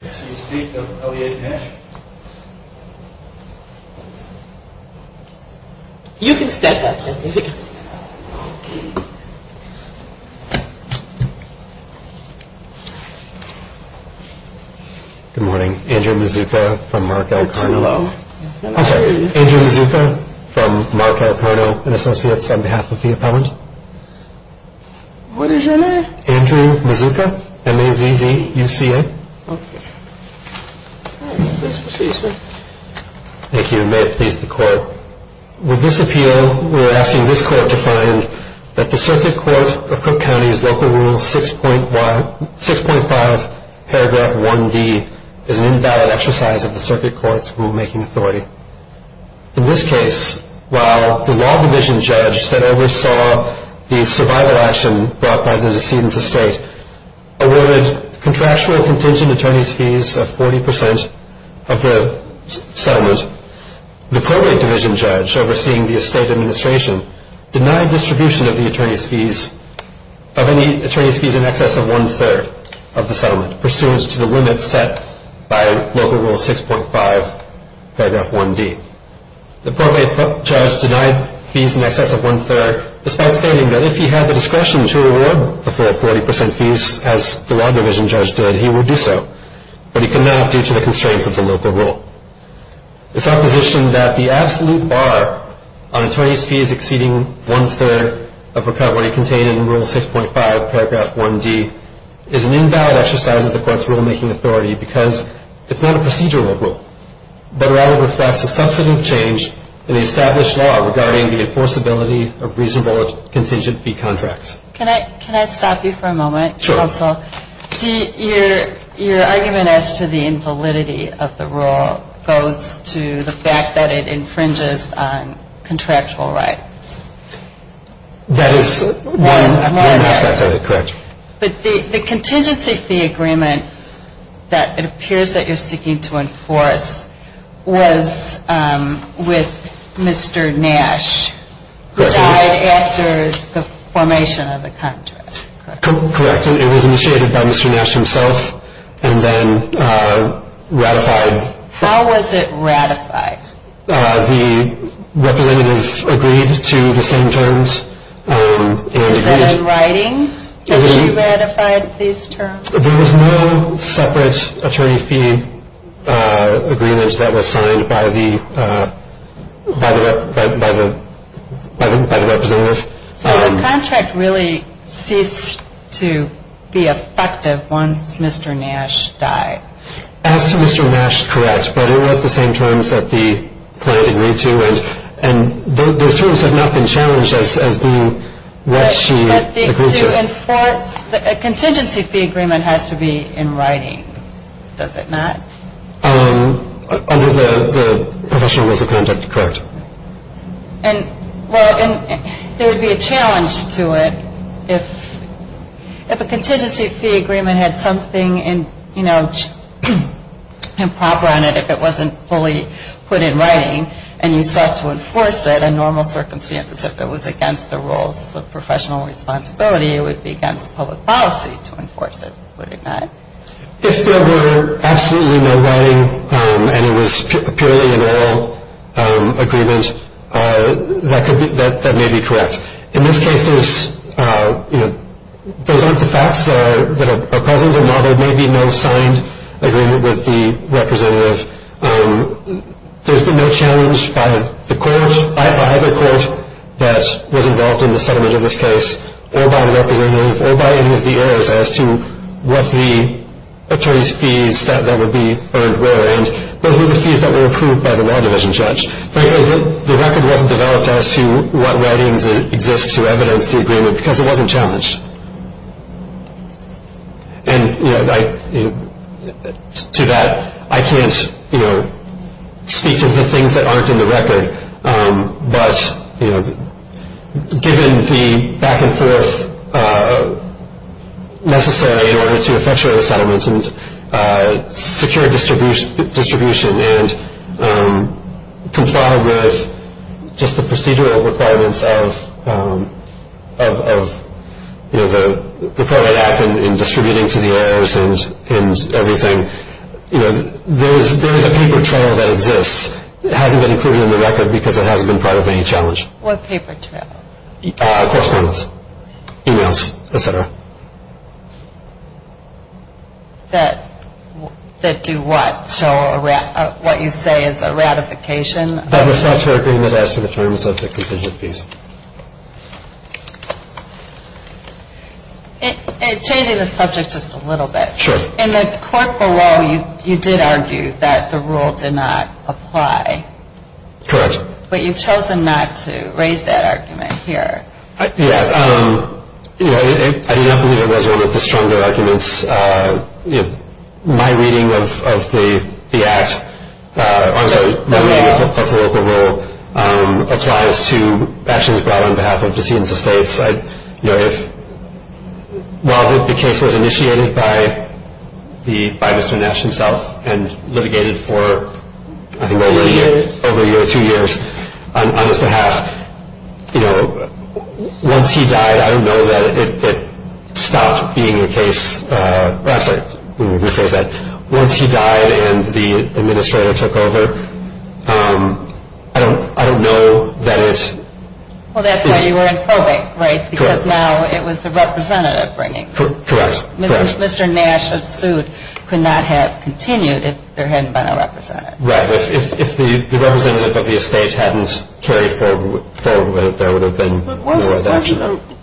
You can stand back there, if you can stand back there. Good morning. Andrew Mazzucca from Markel Karno. I'm sorry. Andrew Mazzucca from Markel Karno and Associates on behalf of the opponent. What is your name? Andrew Mazzucca. M-A-Z-Z-U-C-A. Thank you and may it please the court. With this appeal, we are asking this court to find that the circuit court of Cook County's local rule 6.5 paragraph 1D is an invalid exercise of the circuit court's rulemaking authority. In this case, while the law division judge that oversaw the survival action brought by the decedent's estate awarded contractual contingent attorney's fees of 40% of the settlement, the pro-rate division judge overseeing the estate administration denied distribution of any attorney's fees in excess of one-third of the settlement, pursuant to the limits set by local rule 6.5 paragraph 1D. The pro-rate judge denied fees in excess of one-third, despite stating that if he had the discretion to award the full 40% fees, as the law division judge did, he would do so, but he could not due to the constraints of the local rule. The supposition that the absolute bar on attorney's fees exceeding one-third of recovery contained in rule 6.5 paragraph 1D is an invalid exercise of the court's rulemaking authority because it's not a procedural rule, but rather reflects a substantive change in the established law regarding the enforceability of reasonable contingent fee contracts. Can I stop you for a moment, counsel? Sure. Your argument as to the invalidity of the rule goes to the fact that it infringes on contractual rights. That is one aspect of it, correct. But the contingency fee agreement that it appears that you're seeking to enforce was with Mr. Nash, who died after the formation of the contract, correct? Correct. It was initiated by Mr. Nash himself and then ratified. How was it ratified? The representative agreed to the same terms and agreed. Is that in writing? That she ratified these terms? There was no separate attorney fee agreement that was signed by the representative. So the contract really ceased to be effective once Mr. Nash died. As to Mr. Nash, correct, but it was the same terms that the client agreed to and those terms have not been challenged as being what she agreed to. But to enforce a contingency fee agreement has to be in writing, does it not? Under the professional rules of conduct, correct. And there would be a challenge to it if a contingency fee agreement had something improper on it if it wasn't fully put in writing and you sought to enforce it if it was against the rules of professional responsibility, it would be against public policy to enforce it, would it not? If there were absolutely no writing and it was purely an oral agreement, that may be correct. In this case, those aren't the facts that are present and while there may be no signed agreement with the representative, there's been no challenge by the court, by either court that was involved in the settlement of this case or by the representative or by any of the heirs as to what the attorney's fees that would be earned were and those were the fees that were approved by the law division judge. Frankly, the record wasn't developed as to what writings exist to evidence the agreement because it wasn't challenged. And to that, I can't speak to the things that aren't in the record, but given the back and forth necessary in order to effectuate a settlement and secure distribution and comply with just the procedural requirements of the Pro-Right Act in distributing to the heirs and everything, there is a paper trail that exists. It hasn't been included in the record because it hasn't been part of any challenge. What paper trail? Correspondence, e-mails, et cetera. That do what? Show what you say is a ratification? That reflects our agreement as to the terms of the contingent fees. Changing the subject just a little bit. Sure. In the court below, you did argue that the rule did not apply. Correct. But you've chosen not to raise that argument here. Yes. I do not believe it was one of the stronger arguments. My reading of the Act, also my reading of the local rule, applies to actions brought on behalf of decedents of states. While the case was initiated by Mr. Nash himself and litigated for, I think, over a year or two years on his behalf, once he died, I don't know that it stopped being a case. I'm sorry, let me rephrase that. Once he died and the administrator took over, I don't know that it is. Well, that's why you were in probate, right? Correct. Because now it was the representative bringing it. Correct. Mr. Nash's suit could not have continued if there hadn't been a representative. Right. If the representative of the estate hadn't carried forward with it, there would have been no other action. But wasn't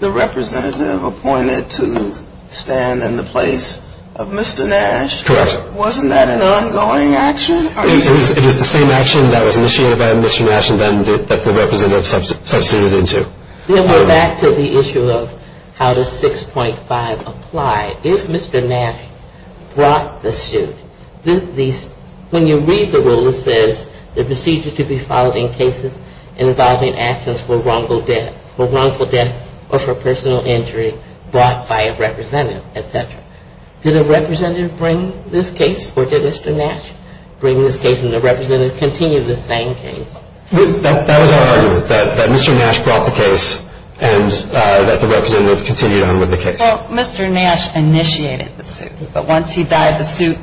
the representative appointed to stand in the place of Mr. Nash? Correct. Wasn't that an ongoing action? It is the same action that was initiated by Mr. Nash and then that the representative substituted into. Then we're back to the issue of how does 6.5 apply. If Mr. Nash brought the suit, when you read the rule, it says the procedure to be filed in cases involving actions for wrongful death or for personal injury brought by a representative, et cetera. Did a representative bring this case or did Mr. Nash bring this case and the representative continue the same case? That was our argument, that Mr. Nash brought the case and that the representative continued on with the case. Well, Mr. Nash initiated the suit, but once he died, the suit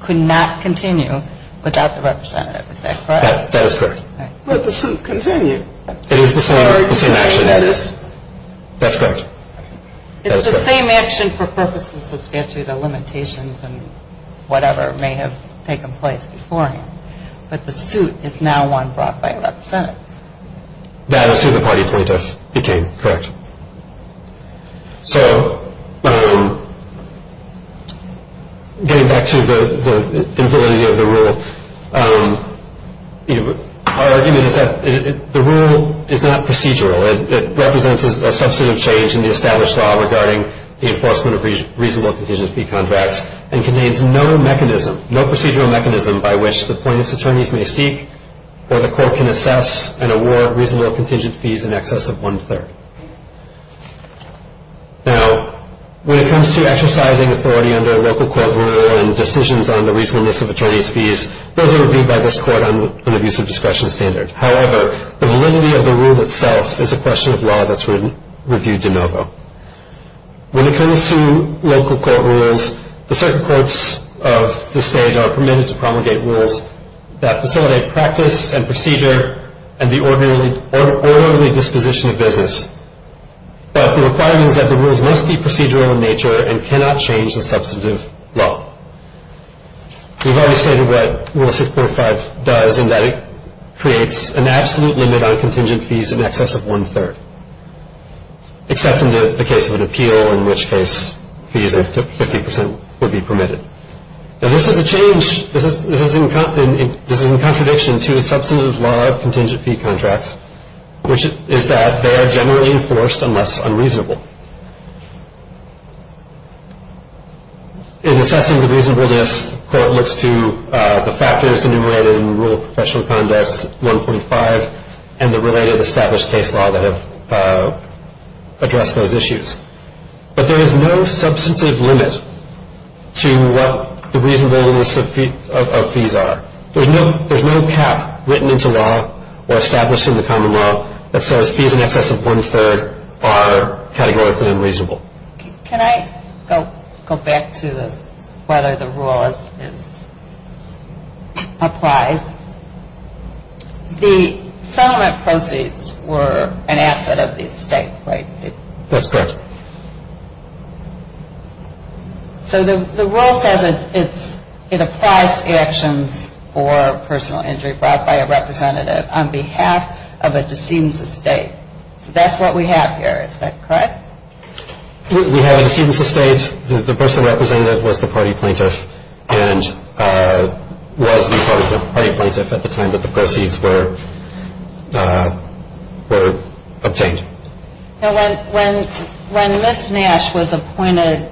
could not continue without the representative. Is that correct? That is correct. But the suit continued. It is the same action. That's correct. It's the same action for purposes of statute of limitations and whatever may have taken place before him, but the suit is now one brought by a representative. That is who the party plaintiff became, correct. So getting back to the validity of the rule, our argument is that the rule is not procedural. It represents a substantive change in the established law regarding the enforcement of reasonable contingent fee contracts and contains no mechanism, no procedural mechanism by which the plaintiff's attorneys may seek or the court can assess and award reasonable contingent fees in excess of one-third. Now, when it comes to exercising authority under local court rule and decisions on the reasonableness of attorney's fees, those are reviewed by this court on an abusive discretion standard. However, the validity of the rule itself is a question of law that's reviewed de novo. When it comes to local court rules, the circuit courts of this stage are permitted to promulgate rules that facilitate practice and procedure and the orderly disposition of business, but the requirement is that the rules must be procedural in nature and cannot change the substantive law. We've already stated what Rule 645 does in that it creates an absolute limit on contingent fees in excess of one-third, except in the case of an appeal, in which case fees of 50 percent would be permitted. Now, this is a change. This is in contradiction to the substantive law of contingent fee contracts, which is that they are generally enforced unless unreasonable. In assessing the reasonableness, the court looks to the factors enumerated in Rule of Professional Conduct 1.5 and the related established case law that have addressed those issues. But there is no substantive limit to what the reasonableness of fees are. There's no cap written into law or established in the common law that says fees in excess of one-third are categorically unreasonable. Can I go back to whether the rule applies? The settlement proceeds were an asset of the estate, right? That's correct. So the rule says it applies to actions for personal injury brought by a representative on behalf of a decedent's estate. So that's what we have here. Is that correct? We have a decedent's estate. The person represented was the party plaintiff and was the party plaintiff at the time that the proceeds were obtained. When Ms. Nash was appointed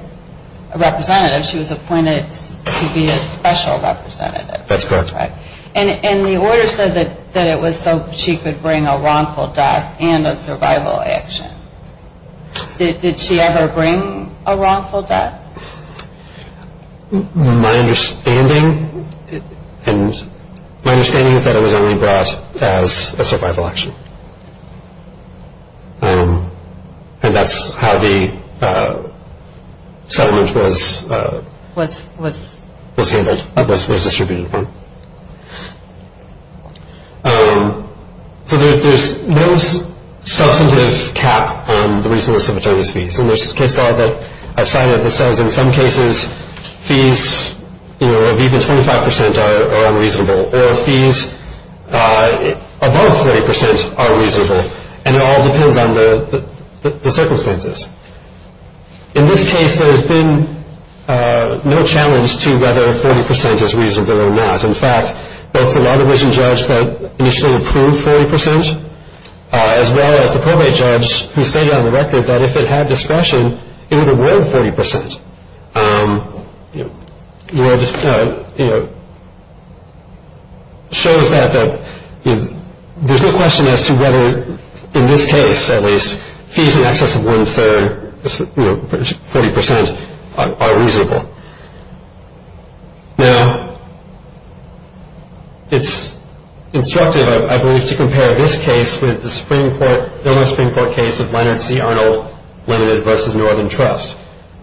a representative, she was appointed to be a special representative. That's correct. And the order said that it was so she could bring a wrongful death and a survival action. Did she ever bring a wrongful death? My understanding is that it was only brought as a survival action. And that's how the settlement was distributed. So there's no substantive cap on the reasonableness of attorneys' fees. And there's a case law that I've cited that says in some cases fees of even 25 percent are unreasonable, or fees above 40 percent are reasonable, and it all depends on the circumstances. In this case, there's been no challenge to whether 40 percent is reasonable or not. In fact, both the law division judge that initially approved 40 percent, as well as the probate judge who stated on the record that if it had discretion, it would award 40 percent, shows that there's no question as to whether, in this case at least, fees in excess of one-third, 40 percent, are reasonable. Now, it's instructive, I believe, to compare this case with the Illinois Supreme Court case of Leonard C. Arnold, Leonard versus Northern Trust,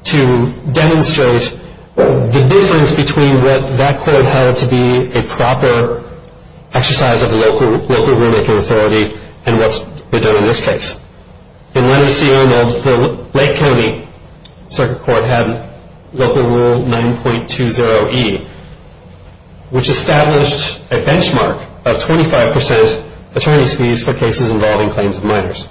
to demonstrate the difference between what that court held to be a proper exercise of local rulemaking authority and what's been done in this case. In Leonard C. Arnold, the Lake County Circuit Court had local rule 9.20E, which established a benchmark of 25 percent attorney's fees for cases involving claims of minors.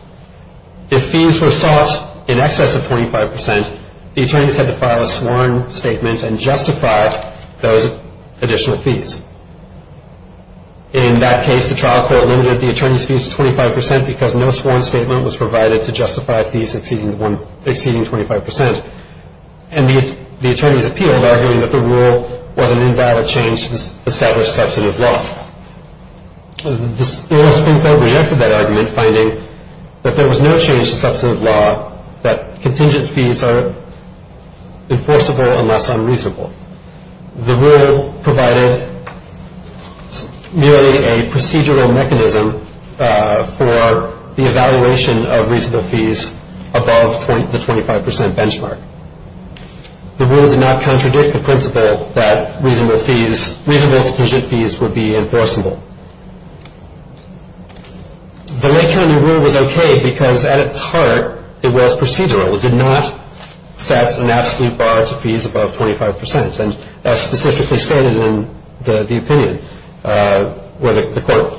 If fees were sought in excess of 25 percent, the attorneys had to file a sworn statement and justify those additional fees. In that case, the trial court limited the attorneys' fees to 25 percent because no sworn statement was provided to justify fees exceeding 25 percent. And the attorneys appealed, arguing that the rule was an invalid change to the established substantive law. The Illinois Supreme Court rejected that argument, finding that there was no change to substantive law that contingent fees are enforceable unless unreasonable. The rule provided merely a procedural mechanism for the evaluation of reasonable fees above the 25 percent benchmark. The rule did not contradict the principle that reasonable contingent fees would be enforceable. The Lake County rule was okay because, at its heart, it was procedural. It did not set an absolute bar to fees above 25 percent. And that's specifically stated in the opinion where the court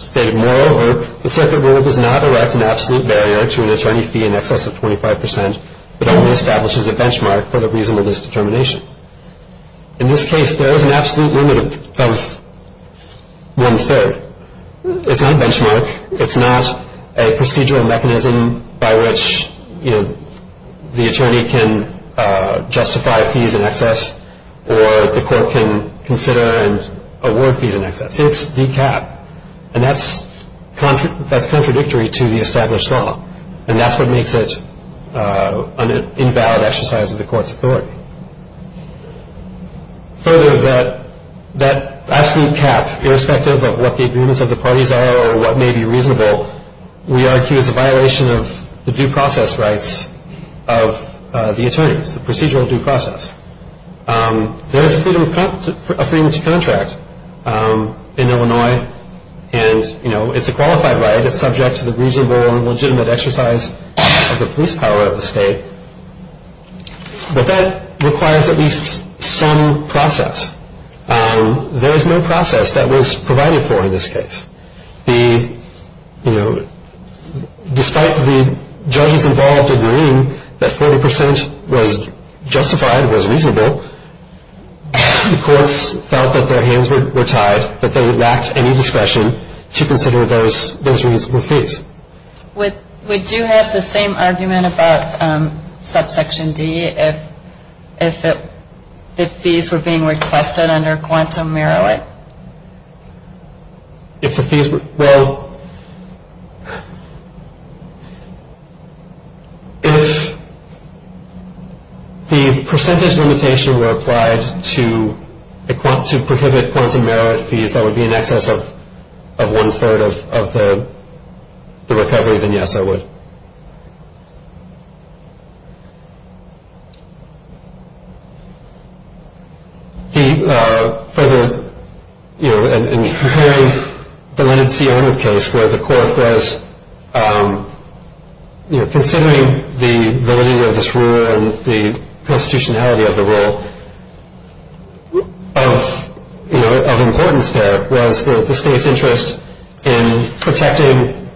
stated, moreover, the circuit rule does not erect an absolute barrier to an attorney fee in excess of 25 percent but only establishes a benchmark for the reason of this determination. In this case, there is an absolute limit of one-third. It's not a benchmark. It's not a procedural mechanism by which the attorney can justify fees in excess or the court can consider and award fees in excess. It's the cap, and that's contradictory to the established law, and that's what makes it an invalid exercise of the court's authority. Further, that absolute cap, irrespective of what the agreements of the parties are or what may be reasonable, we argue is a violation of the due process rights of the attorneys, the procedural due process. There is a freedom to contract in Illinois, and, you know, it's a qualified right. It's subject to the reasonable and legitimate exercise of the police power of the state. But that requires at least some process. There is no process that was provided for in this case. The, you know, despite the judges involved agreeing that 40 percent was justified, was reasonable, the courts felt that their hands were tied, that they lacked any discretion to consider those reasonable fees. Would you have the same argument about subsection D if the fees were being requested under quantum merit? If the fees were, well, if the percentage limitation were applied to prohibit quantum merit fees, that would be in excess of one-third of the recovery, then yes, I would. Further, you know, in comparing the Leonard C. Arnott case where the court was, you know, the state's interest in protecting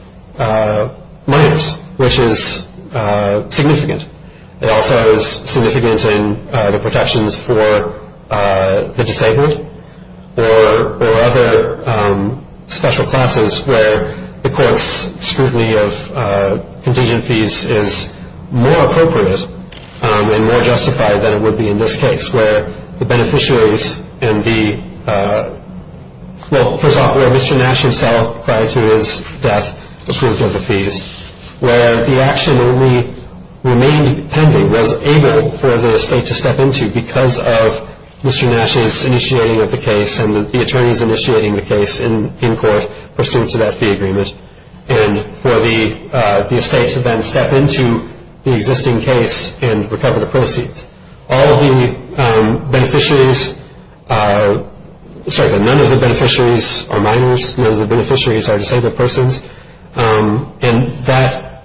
minors, which is significant. It also is significant in the protections for the disabled or other special classes where the court's scrutiny of contingent fees is more appropriate and more justified than it would be in this case, where the beneficiaries and the, well, first off, where Mr. Nash himself prior to his death approved of the fees, where the action only remained pending, was able for the state to step into because of Mr. Nash's initiating of the case and the attorneys initiating the case in court pursuant to that fee agreement, and for the state to then step into the existing case and recover the proceeds. All of the beneficiaries, sorry, none of the beneficiaries are minors, none of the beneficiaries are disabled persons, and that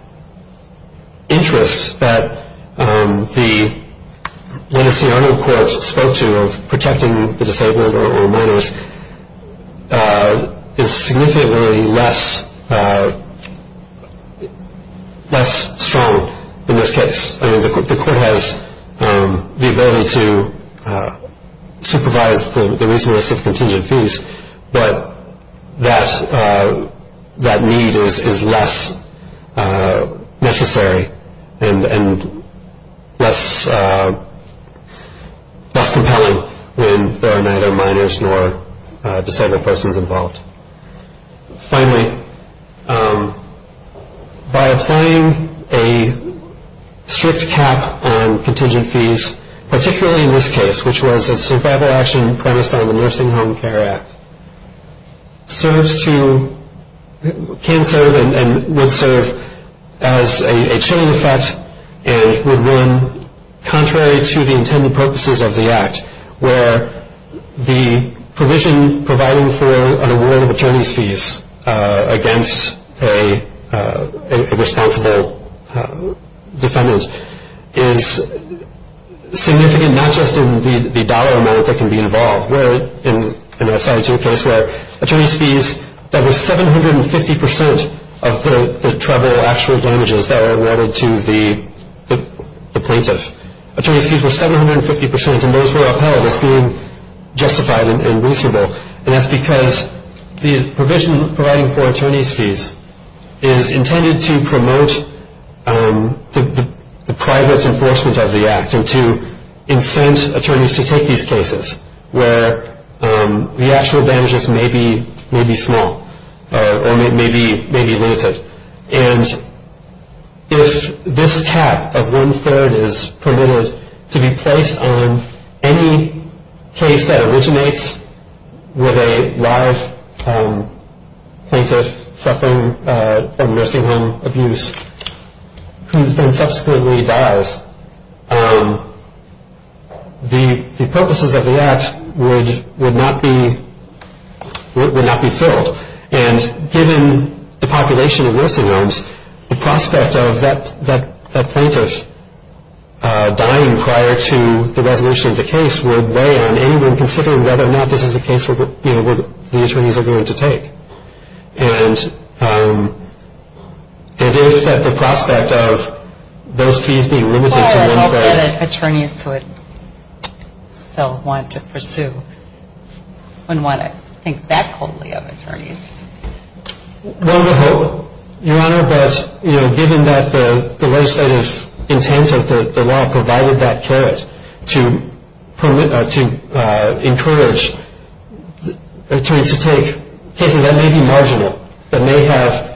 interest that the Leonard C. Arnott court spoke to of protecting the disabled or minors is significantly less strong in this case. I mean, the court has the ability to supervise the reasonableness of contingent fees, but that need is less necessary and less compelling when there are neither minors nor disabled persons involved. Finally, by applying a strict cap on contingent fees, particularly in this case, which was a survival action premised on the Nursing Home Care Act, serves to, can serve and would serve as a chilling effect and would run contrary to the intended purposes of the act, where the provision providing for an award of attorney's fees against a responsible defendant is significant not just in the dollar amount that can be involved, where in an aside to a case where attorney's fees, that was 750% of the treble actual damages that were awarded to the plaintiff. Attorney's fees were 750% and those were upheld as being justified and reasonable, and that's because the provision providing for attorney's fees is intended to promote the private enforcement of the act and to incent attorneys to take these cases where the actual damages may be small or may be limited. And if this cap of one third is permitted to be placed on any case that originates with a live plaintiff suffering from nursing home abuse, who then subsequently dies, the purposes of the act would not be filled. And given the population of nursing homes, the prospect of that plaintiff dying prior to the resolution of the case would weigh on anyone considering whether or not this is a case where the attorneys are going to take. And if that the prospect of those fees being limited to one third. I don't know that attorneys would still want to pursue, wouldn't want to think that coldly of attorneys. Well, your Honor, but given that the legislative intent of the law provided that carrot to encourage attorneys to take cases that may be marginal, that may have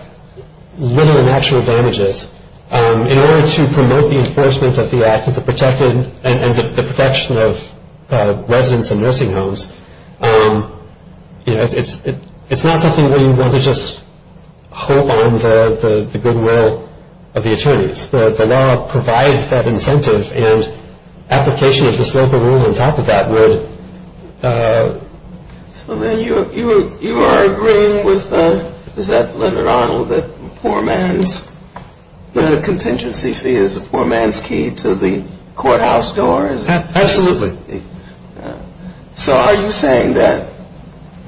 little natural damages, in order to promote the enforcement of the act and the protection of residents and nursing homes, it's not something where you want to just hope on the goodwill of the attorneys. The law provides that incentive and application of this local rule on top of that would. So then you are agreeing with, is that Leonard Arnold, that poor man's contingency fee is a poor man's key to the courthouse door? Absolutely. So are you saying that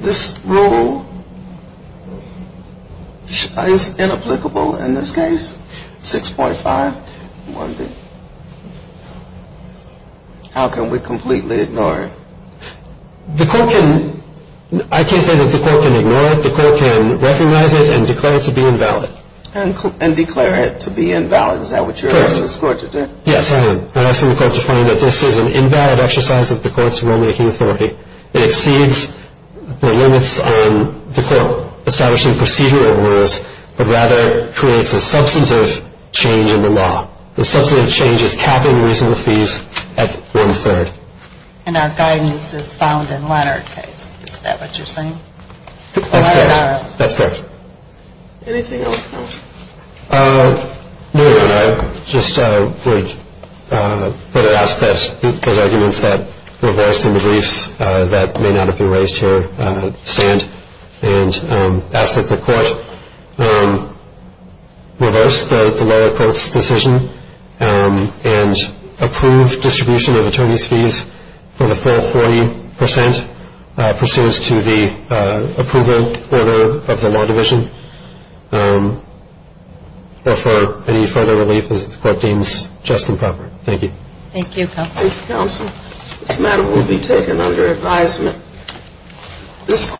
this rule is inapplicable in this case, 6.5? How can we completely ignore it? The court can, I can't say that the court can ignore it, the court can recognize it and declare it to be invalid. And declare it to be invalid, is that what you're asking the court to do? Yes, I am. I'm asking the court to find that this is an invalid exercise of the court's rulemaking authority. It exceeds the limits on the court establishing procedural rules, but rather creates a substantive change in the law. The substantive change is capping reasonable fees at one-third. And our guidance is found in Leonard's case, is that what you're saying? That's correct, that's correct. Anything else? No, I just would ask that those arguments that were voiced in the briefs that may not have been raised here stand. And ask that the court reverse the lower court's decision and approve distribution of attorney's fees for the full 40 percent pursuant to the approval order of the law division. Or for any further relief as the court deems just and proper. Thank you. Thank you, counsel. Thank you, counsel. This matter will be taken under advisement.